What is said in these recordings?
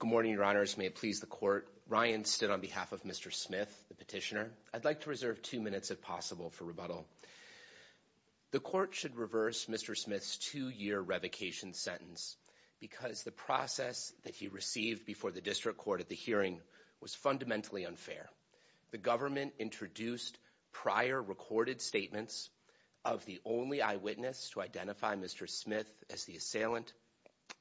Good morning, Your Honors. May it please the Court, Ryan stood on behalf of Mr. Smith, the petitioner. I'd like to reserve two minutes if possible for rebuttal. The Court should reverse Mr. Smith's two-year revocation sentence because the process that he received before the District Court at the hearing was fundamentally unfair. The government introduced prior recorded statements of the only eyewitness to identify Mr. Smith as the assailant,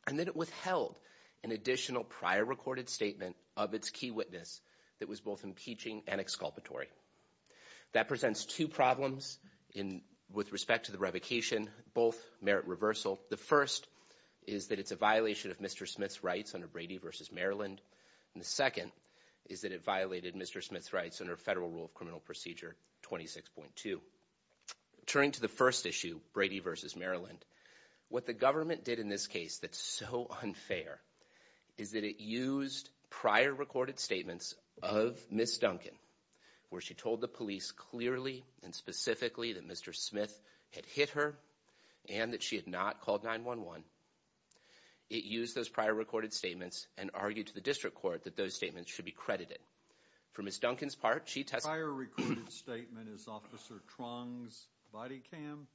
and then it withheld an additional prior recorded statement of its key witness that was both impeaching and exculpatory. That presents two problems with respect to the revocation, both merit reversal. The first is that it's a violation of Mr. Smith's rights under Brady v. Maryland, and the second is that it violated Mr. Smith's rights under Federal Rule of Criminal Procedure 26.2. Returning to the first issue, Brady v. Maryland, what the government did in this case that's so unfair is that it used prior recorded statements of Ms. Duncan, where she told the police clearly and specifically that Mr. Smith had hit her and that she had not called 911. It used those prior recorded statements and argued to the District Court that those statements should be credited. For Ms. Duncan's part, she testified... Prior recorded statement is Officer Truong's body cam?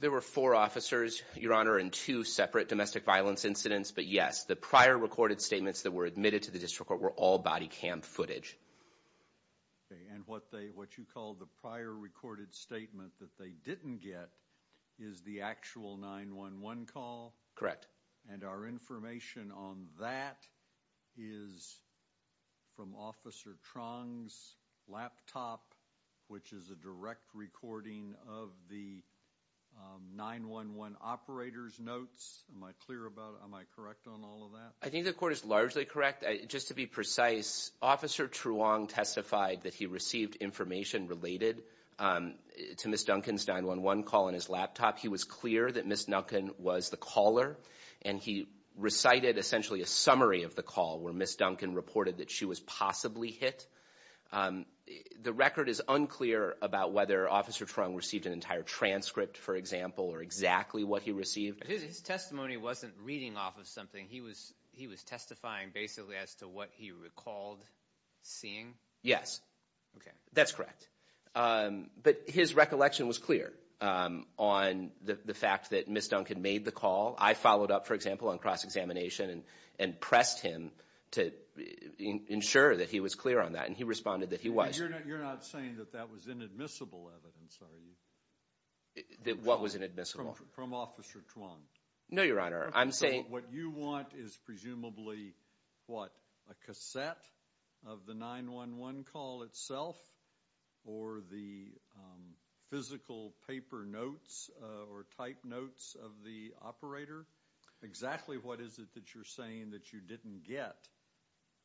There were four officers, Your Honor, in two separate domestic violence incidents, but yes, the prior recorded statements that were admitted to the District Court were all body cam footage. And what you call the prior recorded statement that they didn't get is the actual 911. Correct. And our information on that is from Officer Truong's laptop, which is a direct recording of the 911 operator's notes. Am I correct on all of that? I think the court is largely correct. Just to be precise, Officer Truong testified that he received information related to Ms. Duncan's 911 call on his laptop. He was clear that Ms. Duncan was the caller, and he recited essentially a summary of the call where Ms. Duncan reported that she was possibly hit. The record is unclear about whether Officer Truong received an entire transcript, for example, or exactly what he received. His testimony wasn't reading off of something. He was testifying basically as to what he recalled seeing? Yes. That's correct. But his recollection was clear on the fact that Ms. Duncan made the call. I followed up, for example, on cross-examination and pressed him to ensure that he was clear on that, and he responded that he was. You're not saying that that was inadmissible evidence, are you? What was inadmissible? From Officer Truong. No, Your Honor. I'm saying... What you want is presumably, what, a cassette of the 911 call itself, or the physical paper notes or type notes of the operator? Exactly what is it that you're saying that you didn't get?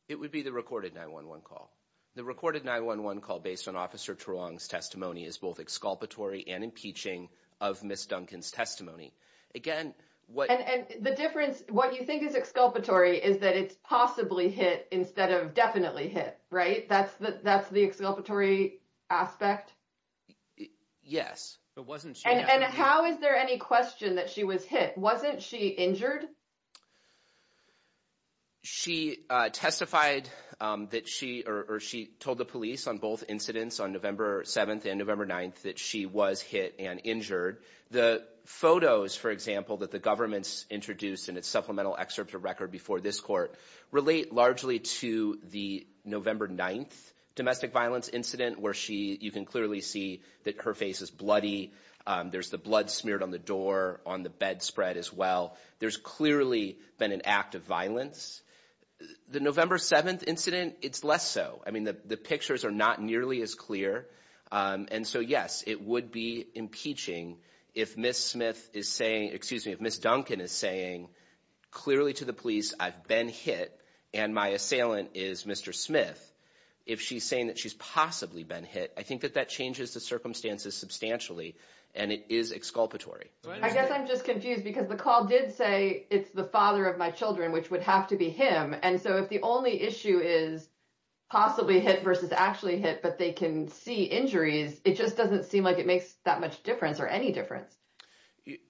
It would be the recorded 911 call. The recorded 911 call based on Officer Truong's testimony is both exculpatory and impeaching of Ms. Duncan's testimony. Again, what- And the difference, what you think is exculpatory is that it's possibly hit instead of definitely hit, right? That's the exculpatory aspect? Yes. But wasn't she- And how is there any question that she was hit? Wasn't she injured? She testified that she, or she told the police on both incidents, on November 7th and November 9th, that she was hit and injured. The photos, for example, that the government's introduced in its supplemental excerpt of record before this court relate largely to the November 9th domestic violence incident where she, you can clearly see that her face is bloody. There's the blood smeared on the door, on the bedspread as well. There's clearly been an act of violence. The November 7th incident, it's less so. I mean, the pictures are not nearly as clear. And so, yes, it would be impeaching if Ms. Smith is saying, excuse me, if Ms. Duncan is saying clearly to the police, I've been hit and my assailant is Mr. Smith, if she's saying that she's possibly been hit, I think that that changes the circumstances substantially and it is exculpatory. I guess I'm just confused because the call did say it's the father of my children, which would have to be him. And so, if the only issue is possibly hit versus actually hit, but they can see injuries, it just doesn't seem like it makes that much difference or any difference.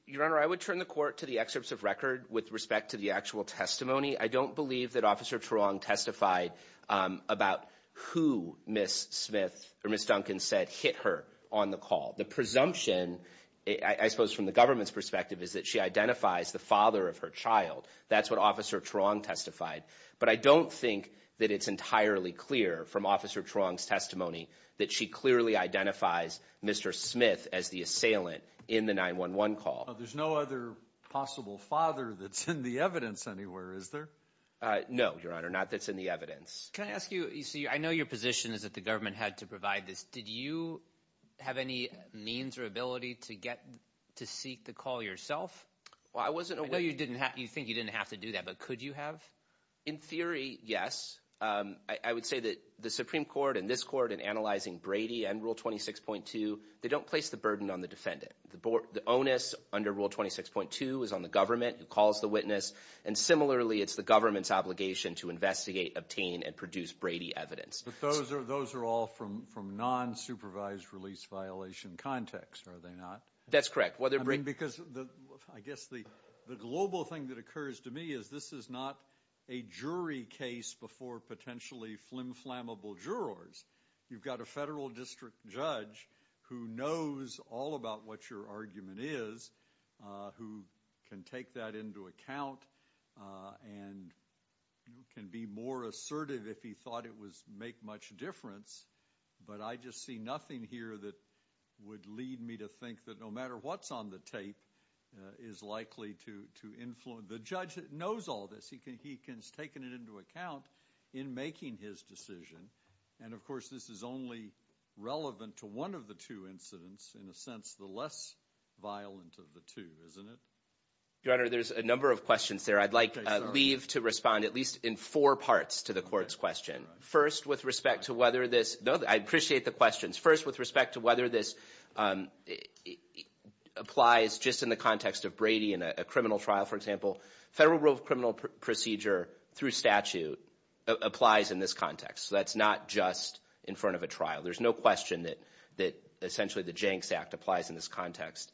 Your Honor, I would turn the court to the excerpts of record with respect to the actual testimony. I don't believe that Officer Tarong testified about who Ms. Smith or Ms. Duncan said hit her on the call. The presumption, I suppose, from the government's perspective is that she identifies the father of her child. That's what Officer Tarong testified. But I don't think that it's entirely clear from Officer Tarong's testimony that she clearly identifies Mr. Smith as the assailant in the 911 call. There's no other possible father that's in the evidence anywhere, is there? No, Your Honor. Not that's in the evidence. Can I ask you, I know your position is that the government had to provide this. Did you have any means or ability to seek the call yourself? I know you think you didn't have to do that, but could you have? In theory, yes. I would say that the Supreme Court and this court in analyzing Brady and Rule 26.2, they don't place the burden on the defendant. The onus under Rule 26.2 is on the government, who calls the witness. And similarly, it's the government's obligation to investigate, obtain, and produce Brady evidence. But those are all from non-supervised release violation context, are they not? That's correct. I mean, because I guess the global thing that occurs to me is this is not a jury case before potentially flim-flammable jurors. You've got a federal district judge who knows all about what your argument is, who can take that into account, and can be more assertive if he thought it would make much difference. But I just see nothing here that would lead me to think that no matter what's on the tape is likely to influence. The judge knows all this. He can take it into account in making his decision. And of course, this is only relevant to one of the two incidents, in a sense the less violent of the two, isn't it? Your Honor, there's a number of questions there. I'd like to leave to respond at least in four parts to the court's question. First, with respect to whether this applies just in the context of Brady in a criminal trial, for example, federal rule of criminal procedure through statute applies in this context. So that's not just in front of a trial. There's no question that essentially the Jenks Act applies in this context.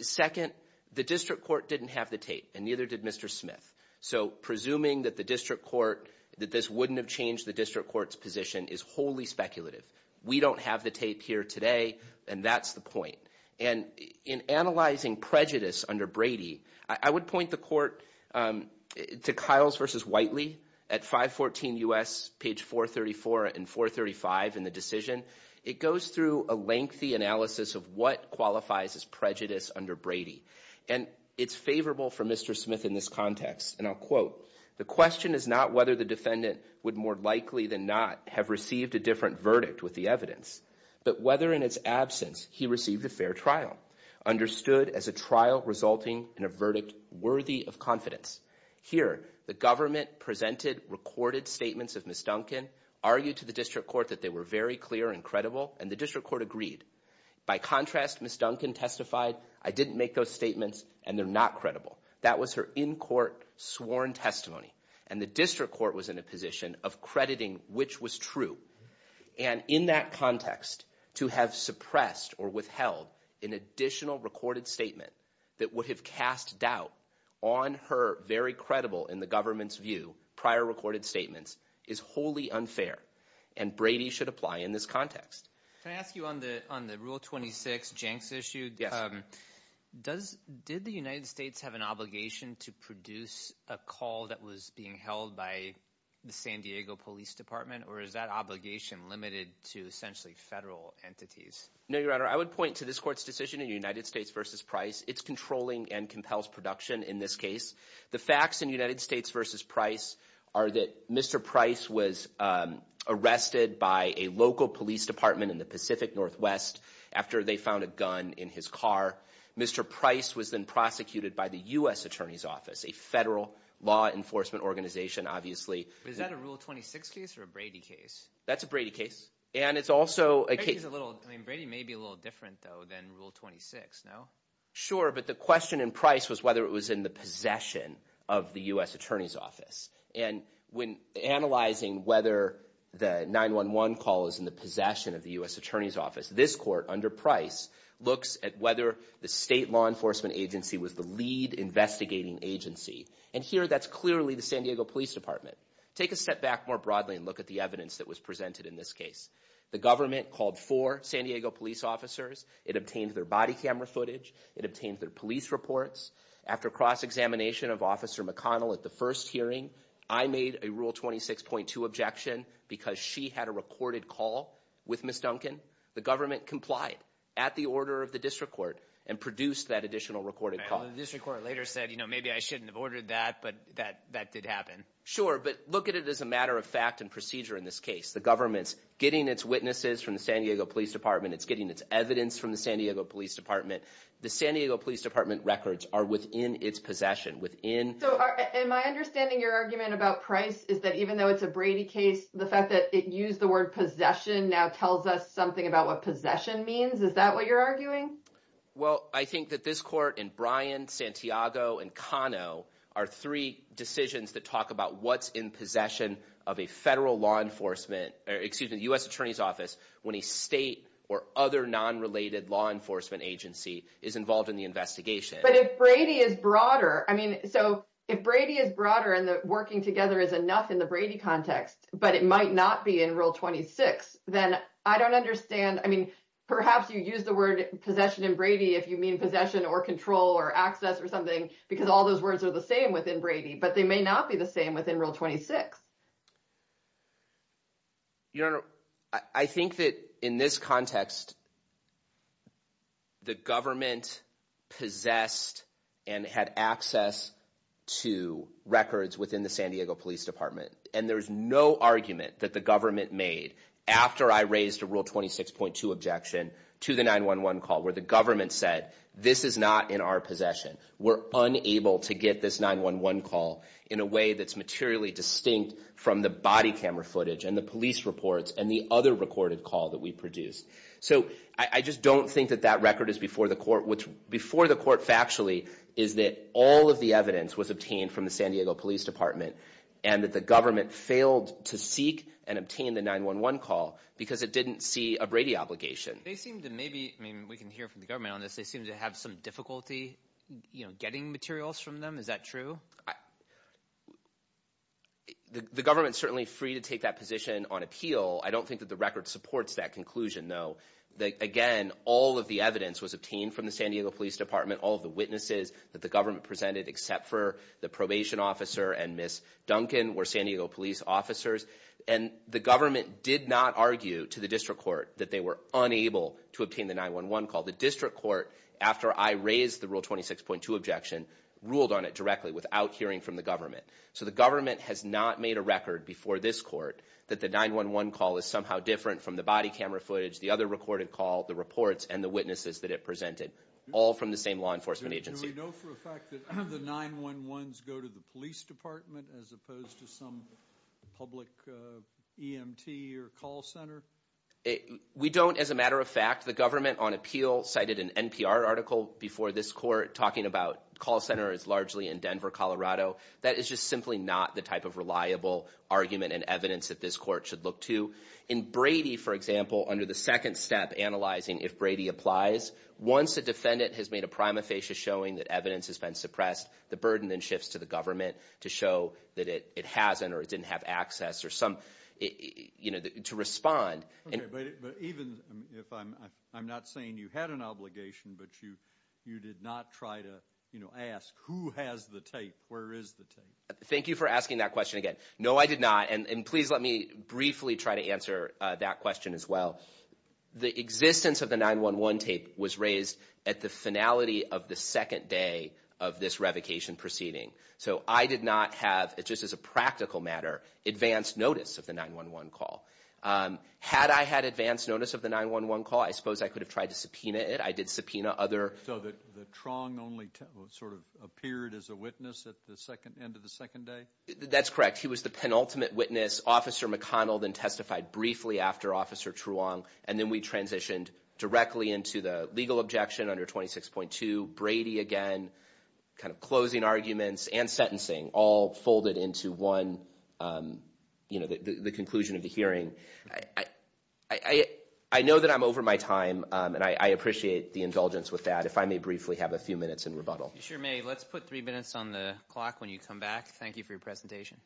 Second, the district court didn't have the tape, and neither did Mr. Smith. So presuming that the district court, that this wouldn't have changed the district court's position is wholly speculative. We don't have the tape here today, and that's the point. And in analyzing prejudice under Brady, I would point the court to Kyles v. Whiteley at 514 U.S., page 434 and 435 in the decision. It goes through a lengthy analysis of what qualifies as prejudice under Brady. And it's favorable for Mr. Smith in this context, and I'll quote, the question is not whether the defendant would more likely than not have received a different verdict with the evidence, but whether in its absence he received a fair trial, understood as a trial resulting in a verdict worthy of confidence. Here, the government presented recorded statements of Ms. Duncan, argued to the district court that they were very clear and credible, and the district court agreed. By contrast, Ms. Duncan testified, I didn't make those statements, and they're not credible. That was her in-court sworn testimony, and the district court was in a position of crediting which was true. And in that context, to have suppressed or withheld an additional recorded statement that would have cast doubt on her very credible, in the government's view, prior recorded statements is wholly unfair, and Brady should apply in this context. Can I ask you on the Rule 26, Jenks issue, did the United States have an obligation to produce a call that was being held by the San Diego Police Department, or is that obligation limited to essentially federal entities? No, Your Honor, I would point to this court's decision in United States v. Price. It's controlling and compels production in this case. The facts in United States v. Price are that Mr. Price was arrested by a local police department, in the Pacific Northwest, after they found a gun in his car. Mr. Price was then prosecuted by the U.S. Attorney's Office, a federal law enforcement organization, obviously. Is that a Rule 26 case or a Brady case? That's a Brady case. And it's also a case... Brady's a little... I mean, Brady may be a little different, though, than Rule 26, no? Sure, but the question in Price was whether it was in the possession of the U.S. Attorney's And when analyzing whether the 911 call is in the possession of the U.S. Attorney's Office, this court, under Price, looks at whether the state law enforcement agency was the lead investigating agency. And here, that's clearly the San Diego Police Department. Take a step back more broadly and look at the evidence that was presented in this case. The government called four San Diego police officers. It obtained their body camera footage. It obtained their police reports. After cross-examination of Officer McConnell at the first hearing, I made a Rule 26.2 objection because she had a recorded call with Ms. Duncan. The government complied at the order of the district court and produced that additional recorded call. The district court later said, you know, maybe I shouldn't have ordered that, but that did happen. Sure, but look at it as a matter of fact and procedure in this case. The government's getting its witnesses from the San Diego Police Department. It's getting its evidence from the San Diego Police Department. The San Diego Police Department records are within its possession, within- So, am I understanding your argument about Price is that even though it's a Brady case, the fact that it used the word possession now tells us something about what possession means? Is that what you're arguing? Well, I think that this court and Bryan, Santiago, and Cano are three decisions that talk about what's in possession of a federal law enforcement, excuse me, US Attorney's Office, when a state or other non-related law enforcement agency is involved in the investigation. But if Brady is broader, I mean, so if Brady is broader and the working together is enough in the Brady context, but it might not be in Rule 26, then I don't understand. I mean, perhaps you use the word possession in Brady if you mean possession or control or access or something, because all those words are the same within Brady, but they may not be the same within Rule 26. Your Honor, I think that in this context, the government possessed and had access to records within the San Diego Police Department. And there's no argument that the government made after I raised a Rule 26.2 objection to the 911 call where the government said, this is not in our possession. We're unable to get this 911 call in a way that's materially distinct from the body camera footage and the police reports and the other recorded call that we produced. So I just don't think that that record is before the court, which before the court factually is that all of the evidence was obtained from the San Diego Police Department and that the government failed to seek and obtain the 911 call because it didn't see a Brady obligation. They seem to maybe, I mean, we can hear from the government on this, they seem to have some difficulty, you know, getting materials from them. Is that true? The government's certainly free to take that position on appeal. I don't think that the record supports that conclusion, though. Again, all of the evidence was obtained from the San Diego Police Department. All of the witnesses that the government presented except for the probation officer and Ms. Duncan were San Diego police officers. And the government did not argue to the district court that they were unable to obtain the 911 call. The district court, after I raised the Rule 26.2 objection, ruled on it directly without hearing from the government. So the government has not made a record before this court that the 911 call is somehow different from the body camera footage, the other recorded call, the reports, and the witnesses that it presented, all from the same law enforcement agency. Do we know for a fact that the 911s go to the police department as opposed to some public EMT or call center? We don't as a matter of fact. The government on appeal cited an NPR article before this court talking about call centers largely in Denver, Colorado. That is just simply not the type of reliable argument and evidence that this court should look to. In Brady, for example, under the second step analyzing if Brady applies, once a defendant has made a prima facie showing that evidence has been suppressed, the burden then shifts to the government to show that it hasn't or it didn't have access or some, you know, to respond. Okay. But even if I'm not saying you had an obligation, but you did not try to, you know, ask who has the tape, where is the tape? Thank you for asking that question again. No, I did not. And please let me briefly try to answer that question as well. The existence of the 911 tape was raised at the finality of the second day of this revocation proceeding. So, I did not have, just as a practical matter, advance notice of the 911 call. Had I had advance notice of the 911 call, I suppose I could have tried to subpoena it. I did subpoena other... So, the Truong only sort of appeared as a witness at the end of the second day? That's correct. He was the penultimate witness. Officer McConnell then testified briefly after Officer Truong, and then we transitioned directly into the legal objection under 26.2. Brady again, kind of closing arguments and sentencing, all folded into one, you know, the conclusion of the hearing. I know that I'm over my time, and I appreciate the indulgence with that. If I may briefly have a few minutes in rebuttal. You sure may. Let's put three minutes on the clock when you come back. Thank you for your presentation.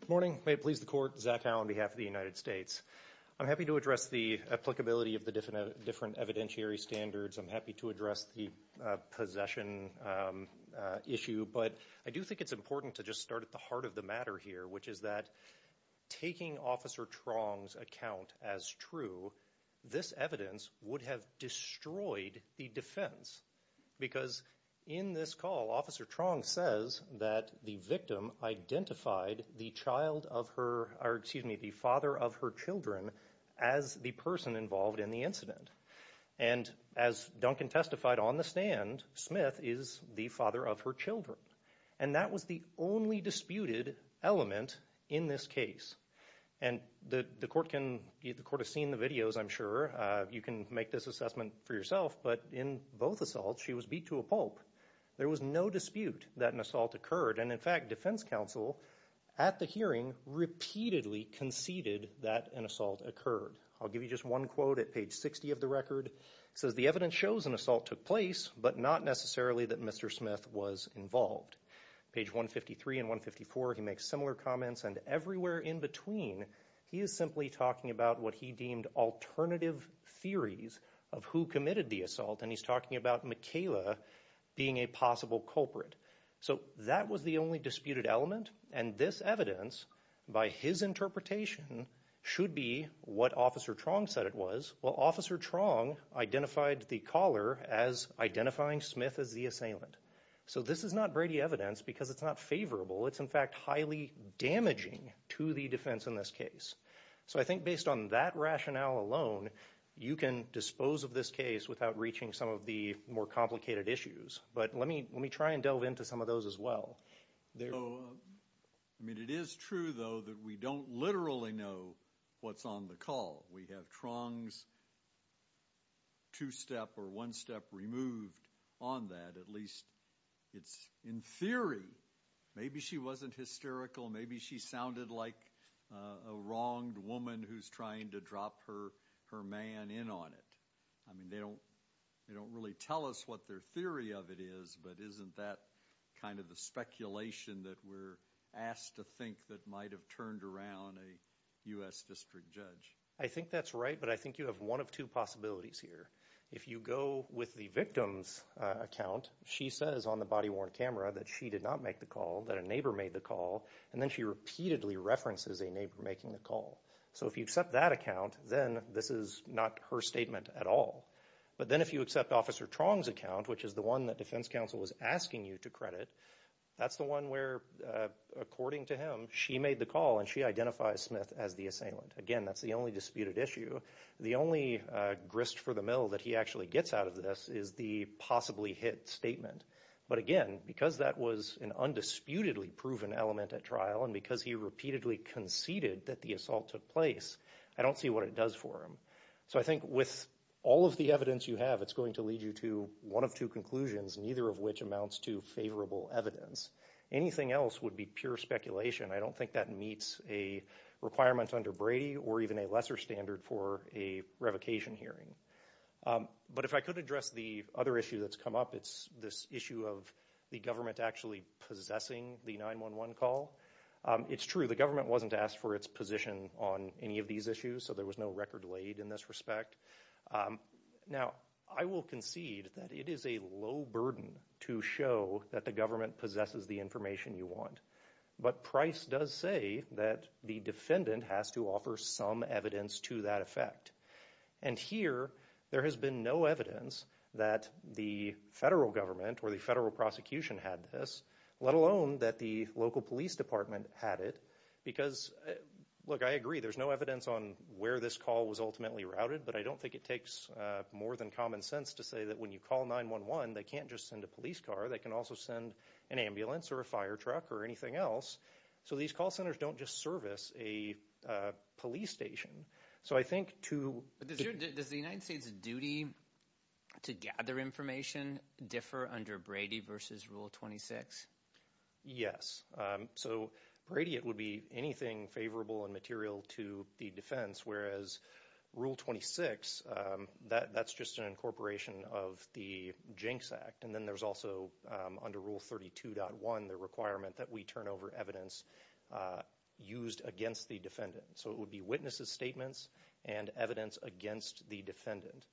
Good morning. May it please the court, Zach Howe on behalf of the United States. I'm happy to address the applicability of the different evidentiary standards. I'm happy to address the possession issue, but I do think it's important to just start at the heart of the matter here, which is that taking Officer Truong's account as true, this evidence would have destroyed the defense, because in this call, Officer Truong says that the victim identified the father of her children as the person involved in the incident. And as Duncan testified on the stand, Smith is the father of her children. And that was the only disputed element in this case. And the court has seen the videos, I'm sure. You can make this assessment for yourself. But in both assaults, she was beat to a pulp. There was no dispute that an assault occurred. And in fact, defense counsel at the hearing repeatedly conceded that an assault occurred. I'll give you just one quote at page 60 of the record. It says, the evidence shows an assault took place, but not necessarily that Mr. Smith was involved. Page 153 and 154, he makes similar comments. And everywhere in between, he is simply talking about what he deemed alternative theories of who committed the assault. And he's talking about Michaela being a possible culprit. So that was the only disputed element. And this evidence, by his interpretation, should be what Officer Truong said it was. Well, Officer Truong identified the caller as identifying Smith as the assailant. So this is not Brady evidence, because it's not favorable. It's, in fact, highly damaging to the defense in this case. So I think based on that rationale alone, you can dispose of this case without reaching some of the more complicated issues. But let me try and delve into some of those as well. I mean, it is true, though, that we don't literally know what's on the call. We have Truong's two-step or one-step removed on that. At least it's in theory. Maybe she wasn't hysterical. Maybe she sounded like a wronged woman who's trying to drop her man in on it. I mean, they don't really tell us what their theory of it is. But isn't that kind of the speculation that we're asked to think that might have turned around a U.S. district judge? I think that's right, but I think you have one of two possibilities here. If you go with the victim's account, she says on the body-worn camera that she did not make the call, that a neighbor made the call. And then she repeatedly references a neighbor making the call. So if you accept that account, then this is not her statement at all. But then if you accept Officer Truong's account, which is the one that Defense Counsel was asking you to credit, that's the one where, according to him, she made the call and she identifies Smith as the assailant. Again, that's the only disputed issue. The only grist for the mill that he actually gets out of this is the possibly hit statement. But again, because that was an undisputedly proven element at trial and because he repeatedly conceded that the assault took place, I don't see what it does for him. So I think with all of the evidence you have, it's going to lead you to one of two conclusions, neither of which amounts to favorable evidence. Anything else would be pure speculation. I don't think that meets a requirement under Brady or even a lesser standard for a revocation hearing. But if I could address the other issue that's come up, it's this issue of the government actually possessing the 911 call. It's true, the government wasn't asked for its position on any of these issues, so there was no record laid in this respect. Now, I will concede that it is a low burden to show that the government possesses the information you want. But Price does say that the defendant has to offer some evidence to that effect. And here, there has been no evidence that the federal government or the federal prosecution had this, let alone that the local police department had it. Because, look, I agree, there's no evidence on where this call was ultimately routed. But I don't think it takes more than common sense to say that when you call 911, they can't just send a police car. They can also send an ambulance or a fire truck or anything else. So these call centers don't just service a police station. So I think to- But does the United States' duty to gather information differ under Brady versus Rule 26? Yes. So Brady, it would be anything favorable and material to the defense. Whereas Rule 26, that's just an incorporation of the Jinx Act. And then there's also under Rule 32.1, the requirement that we turn over evidence used against the defendant. So it would be witnesses' statements and evidence against the defendant.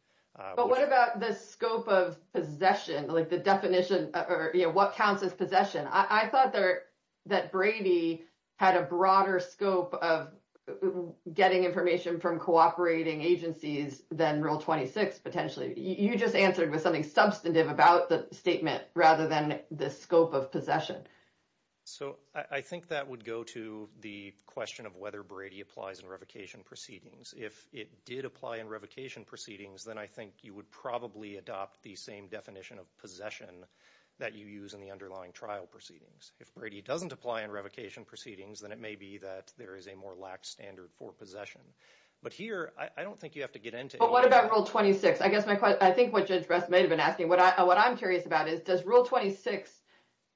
But what about the scope of possession, like the definition, or what counts as possession? I thought that Brady had a broader scope of getting information from cooperating agencies than Rule 26, potentially. You just answered with something substantive about the statement, rather than the scope of possession. So I think that would go to the question of whether Brady applies in revocation proceedings. If it did apply in revocation proceedings, then I think you would probably adopt the same definition of possession that you use in the underlying trial proceedings. If Brady doesn't apply in revocation proceedings, then it may be that there is a more lax standard for possession. But here, I don't think you have to get into- But what about Rule 26? I think what Judge Brest may have been asking. What I'm curious about is, does Rule 26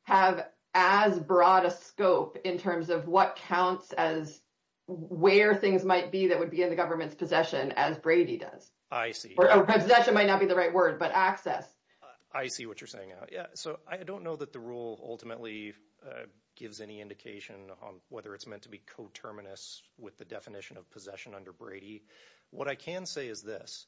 have as broad a scope in terms of what counts as where things might be that would be in the government's possession as Brady does? I see. Possession might not be the right word, but access. I see what you're saying. So I don't know that the rule ultimately gives any indication on whether it's meant to be coterminous with the definition of possession under Brady. What I can say is this,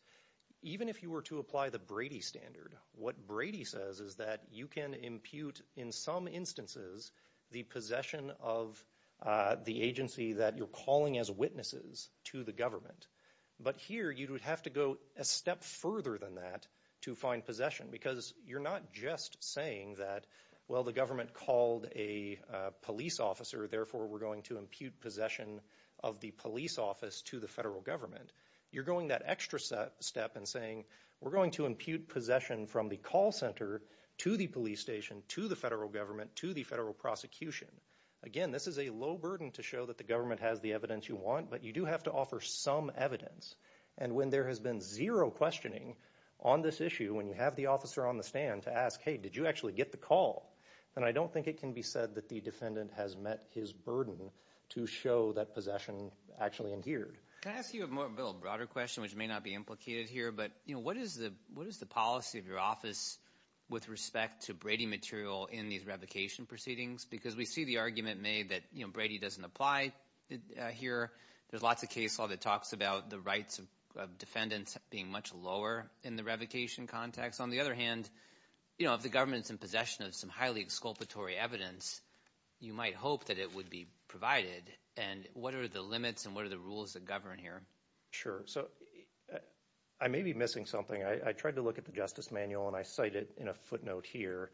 even if you were to apply the Brady standard, what Brady says is that you can impute, in some instances, the possession of the agency that you're calling as witnesses to the government. But here, you would have to go a step further than that to find possession because you're not just saying that, well, the government called a police officer, therefore we're going to impute possession of the police office to the federal government. You're going that extra step and saying, we're going to impute possession from the call center to the police station, to the federal government, to the federal prosecution. Again, this is a low burden to show that the government has the evidence you want, but you do have to offer some evidence. And when there has been zero questioning on this issue, when you have the officer on the stand to ask, hey, did you actually get the call? Then I don't think it can be said that the defendant has met his burden to show that possession actually adhered. Can I ask you a little broader question, which may not be implicated here, but what is the policy of your office with respect to Brady material in these revocation proceedings? Because we see the argument made that Brady doesn't apply here. There's lots of case law that talks about the rights of defendants being much lower in the revocation context. On the other hand, if the government's in possession of some highly exculpatory evidence, you might hope that it would be provided. And what are the limits and what are the rules that govern here? Sure. So I may be missing something. I tried to look at the Justice Manual and I cite it in a footnote here.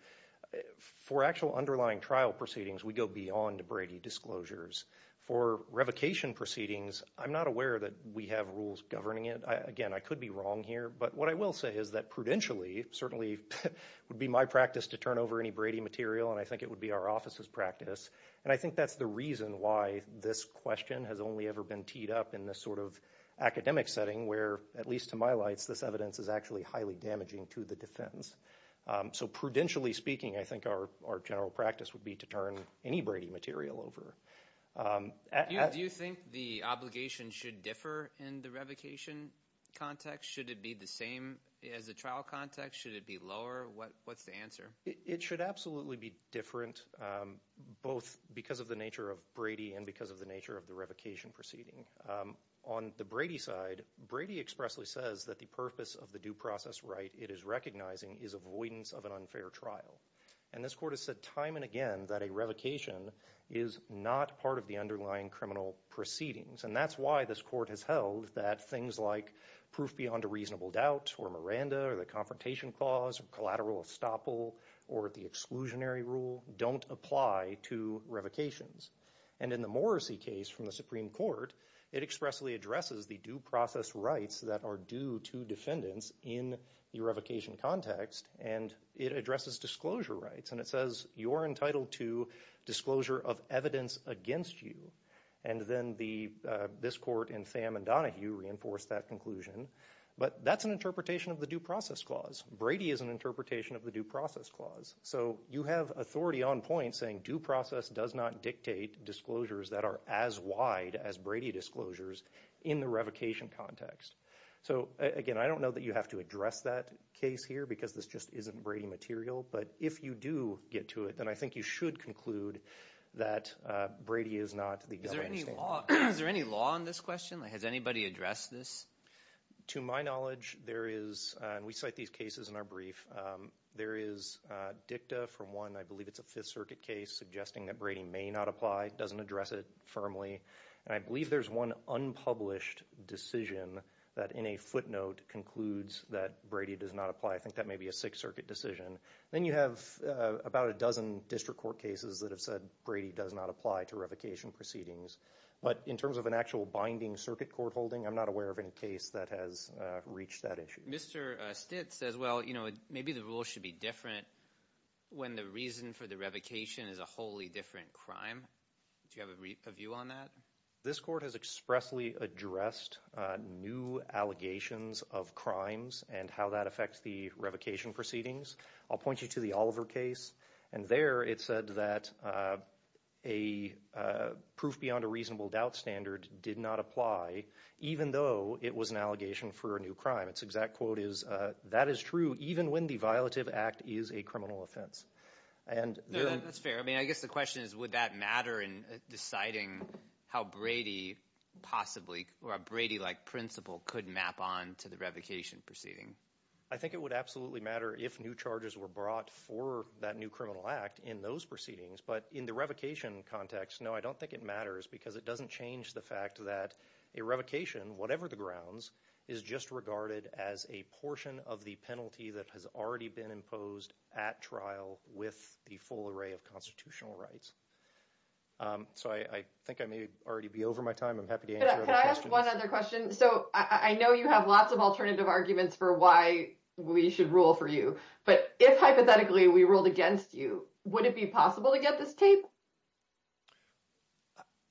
For actual underlying trial proceedings, we go beyond Brady disclosures. For revocation proceedings, I'm not aware that we have rules governing it. Again, I could be wrong here. But what I will say is that prudentially, certainly would be my practice to turn over any Brady material. And I think it would be our office's practice. And I think that's the reason why this question has only ever been teed up in this sort of academic setting where, at least to my lights, this evidence is actually highly damaging to the defense. So prudentially speaking, I think our general practice would be to turn any Brady material over. Do you think the obligation should differ in the revocation context? Should it be the same as the trial context? Should it be lower? What's the answer? It should absolutely be different, both because of the nature of Brady and because of the nature of the revocation proceeding. On the Brady side, Brady expressly says that the purpose of the due process right it is recognizing is avoidance of an unfair trial. And this court has said time and again that a revocation is not part of the underlying criminal proceedings. And that's why this court has held that things like proof beyond a reasonable doubt, or Miranda, or the confrontation clause, or collateral estoppel, or the exclusionary rule don't apply to revocations. And in the Morrissey case from the Supreme Court, it expressly addresses the due process rights that are due to defendants in the revocation context, and it addresses disclosure rights. And it says you're entitled to disclosure of evidence against you. And then this court in Sam and Donahue reinforced that conclusion. But that's an interpretation of the due process clause. Brady is an interpretation of the due process clause. So you have authority on point saying due process does not dictate disclosures that are as wide as Brady disclosures in the revocation context. So again, I don't know that you have to address that case here because this just isn't Brady material. But if you do get to it, then I think you should conclude that Brady is not the understanding. Is there any law on this question? Has anybody addressed this? To my knowledge, there is, and we cite these cases in our brief, there is dicta from one, I believe it's a Fifth Circuit case, suggesting that Brady may not apply, doesn't address it firmly. And I believe there's one unpublished decision that in a footnote concludes that Brady does not apply. I think that may be a Sixth Circuit decision. Then you have about a dozen district court cases that have said Brady does not apply to revocation proceedings. But in terms of an actual binding circuit court holding, I'm not aware of any case that has reached that issue. Mr. Stitt says, well, you know, maybe the rule should be different when the reason for the revocation is a wholly different crime. Do you have a view on that? This court has expressly addressed new allegations of crimes and how that affects the revocation proceedings. I'll point you to the Oliver case. And there it said that a proof beyond a reasonable doubt standard did not apply, even though it was an allegation for a new crime. Its exact quote is, that is true, even when the violative act is a criminal offense. And there are- That's fair. I mean, I guess the question is, would that matter in deciding how Brady possibly, or a Brady-like principle could map on to the revocation proceeding? I think it would absolutely matter if new charges were brought for that new criminal act in those proceedings. But in the revocation context, no, I don't think it matters because it doesn't change the fact that a revocation, whatever the grounds, is just regarded as a portion of the penalty that has already been imposed at trial with the full array of constitutional rights. So, I think I may already be over my time. I'm happy to answer other questions. Can I ask one other question? So, I know you have lots of alternative arguments for why we should rule for you. But if, hypothetically, we ruled against you, would it be possible to get this tape?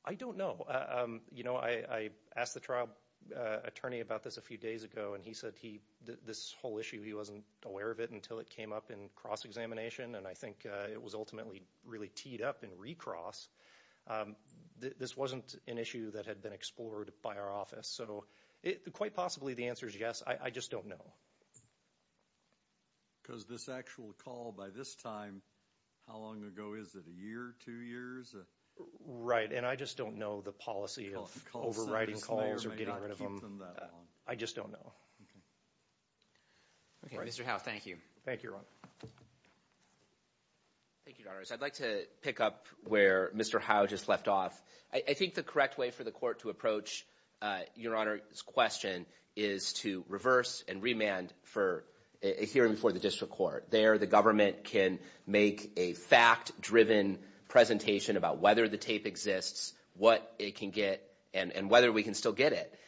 I don't know. You know, I asked the trial attorney about this a few days ago, and he said this whole issue, he wasn't aware of it until it came up in cross-examination. And I think it was ultimately really teed up in recross. This wasn't an issue that had been explored by our office. So, quite possibly, the answer is yes. I just don't know. Because this actual call by this time, how long ago is it? A year, two years? Right, and I just don't know the policy of overriding calls or getting rid of them. I just don't know. Okay, Mr. Howe, thank you. Thank you, Your Honor. Thank you, Your Honors. I'd like to pick up where Mr. Howe just left off. I think the correct way for the court to approach Your Honor's question is to reverse and remand for a hearing before the district court. There, the government can make a fact-driven presentation about whether the tape exists, what it can get, and whether we can still get it.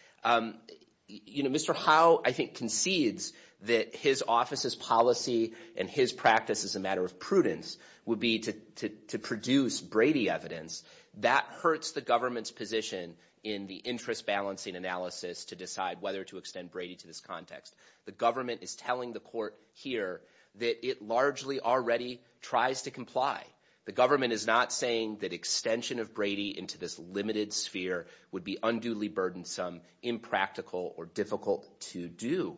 You know, Mr. Howe, I think, concedes that his office's policy and his practice as a matter of prudence would be to produce Brady evidence. That hurts the government's position in the interest-balancing analysis to decide whether to extend Brady to this context. The government is telling the court here that it largely already tries to comply. The government is not saying that extension of Brady into this limited sphere would be unduly burdensome, impractical, or difficult to do.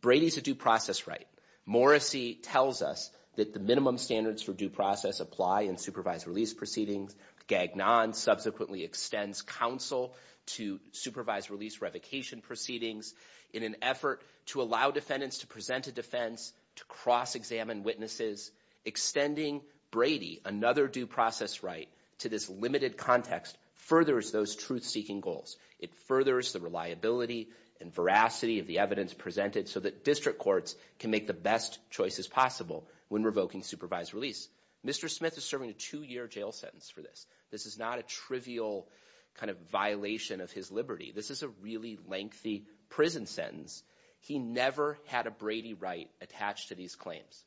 Brady's a due process right. Morrissey tells us that the minimum standards for due process apply in supervised release proceedings. Gagnon subsequently extends counsel to supervised release revocation proceedings. In an effort to allow defendants to present a defense, to cross-examine witnesses, extending Brady, another due process right, to this limited context, furthers those truth-seeking goals. It furthers the reliability and veracity of the evidence presented so that district courts can make the best choices possible when revoking supervised release. Mr. Smith is serving a two-year jail sentence for this. This is not a trivial kind of violation of his liberty. This is a really lengthy prison sentence. He never had a Brady right attached to these claims.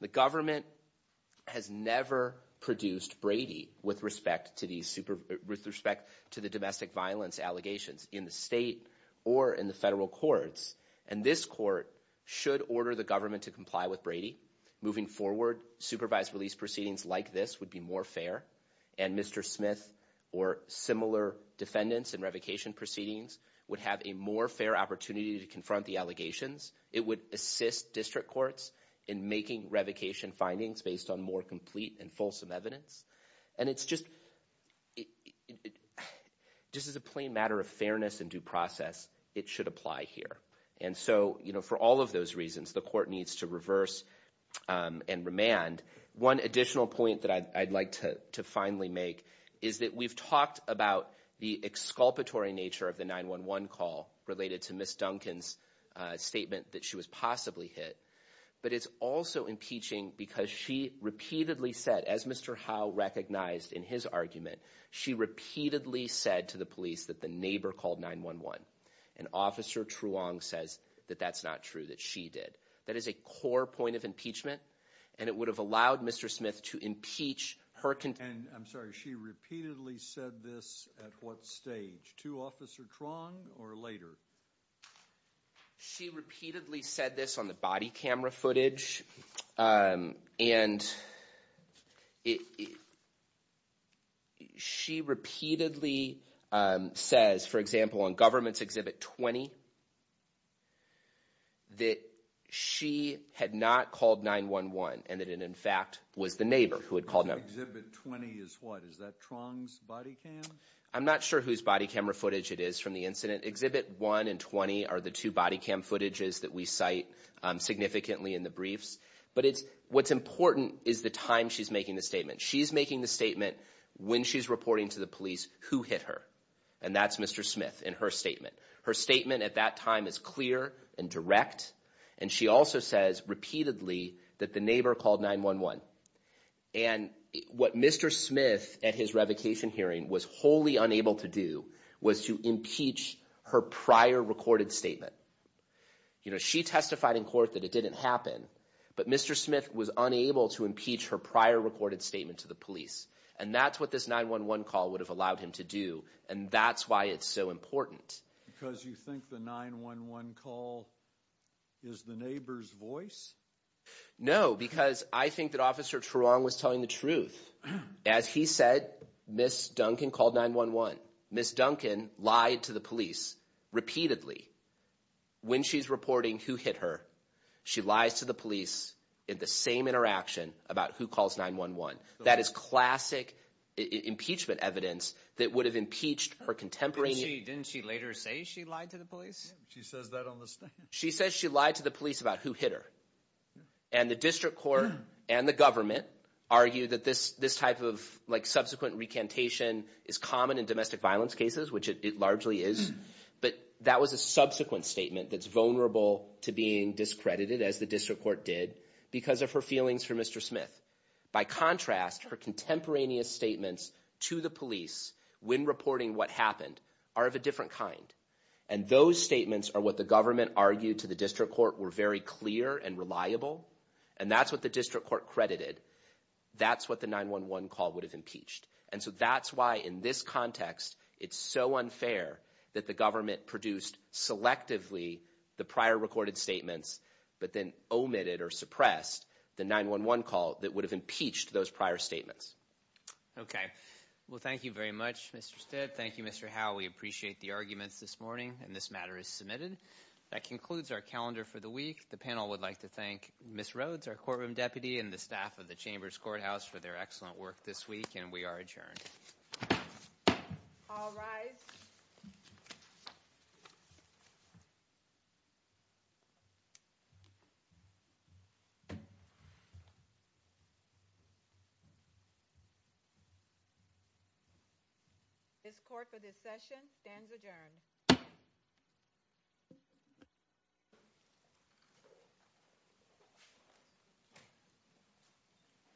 The government has never produced Brady with respect to the domestic violence allegations in the state or in the federal courts. And this court should order the government to comply with Brady. Moving forward, supervised release proceedings like this would be more fair. And Mr. Smith or similar defendants in revocation proceedings would have a more fair opportunity to confront the allegations. It would assist district courts in making revocation findings based on more complete and fulsome evidence. And it's just, this is a plain matter of fairness and due process. It should apply here. And so, you know, for all of those reasons, the court needs to reverse and remand. One additional point that I'd like to finally make is that we've talked about the exculpatory nature of the 911 call related to Ms. Duncan's statement that she was possibly hit. But it's also impeaching because she repeatedly said, as Mr. Howe recognized in his argument, she repeatedly said to the police that the neighbor called 911. And Officer Truong says that that's not true, that she did. That is a core point of impeachment. And it would have allowed Mr. Smith to impeach her. And I'm sorry, she repeatedly said this at what stage? To Officer Truong or later? She repeatedly said this on the body camera footage. And she repeatedly says, for example, on government's exhibit 20, that she had not called 911 and that it in fact was the neighbor who had called 911. Exhibit 20 is what? Is that Truong's body cam? I'm not sure whose body camera footage it is from the incident. Exhibit 1 and 20 are the two body cam footages that we cite significantly in the briefs. But what's important is the time she's making the statement. She's making the statement when she's reporting to the police who hit her. And that's Mr. Smith in her statement. Her statement at that time is clear and direct. And she also says repeatedly that the neighbor called 911. And what Mr. Smith at his revocation hearing was wholly unable to do was to impeach her prior recorded statement. You know, she testified in court that it didn't happen. But Mr. Smith was unable to impeach her prior recorded statement to the police. And that's what this 911 call would have allowed him to do. And that's why it's so important. Because you think the 911 call is the neighbor's voice? No, because I think that Officer Truong was telling the truth. As he said, Ms. Duncan called 911. Ms. Duncan lied to the police repeatedly when she's reporting who hit her. She lies to the police in the same interaction about who calls 911. That is classic impeachment evidence that would have impeached her contemporary. Didn't she later say she lied to the police? She says that on the stand. She says she lied to the police about who hit her. And the district court and the government argue that this type of like subsequent recantation is common in domestic violence cases, which it largely is. But that was a subsequent statement that's vulnerable to being discredited, as the district court did, because of her feelings for Mr. Smith. By contrast, her contemporaneous statements to the police when reporting what happened are of a different kind. And those statements are what the government argued to the district court were very clear and reliable. And that's what the district court credited. That's what the 911 call would have impeached. And so that's why in this context, it's so unfair that the government produced selectively the prior recorded statements, but then omitted or suppressed the 911 call that would have impeached those prior statements. OK, well, thank you very much, Mr. Stitt. Thank you, Mr. Howe. We appreciate the arguments this morning. And this matter is submitted. That concludes our calendar for the week. The panel would like to thank Ms. Rhodes, our courtroom deputy, and the staff of the Chamber's Courthouse for their excellent work this week. And we are adjourned. All rise. This court for this session stands adjourned.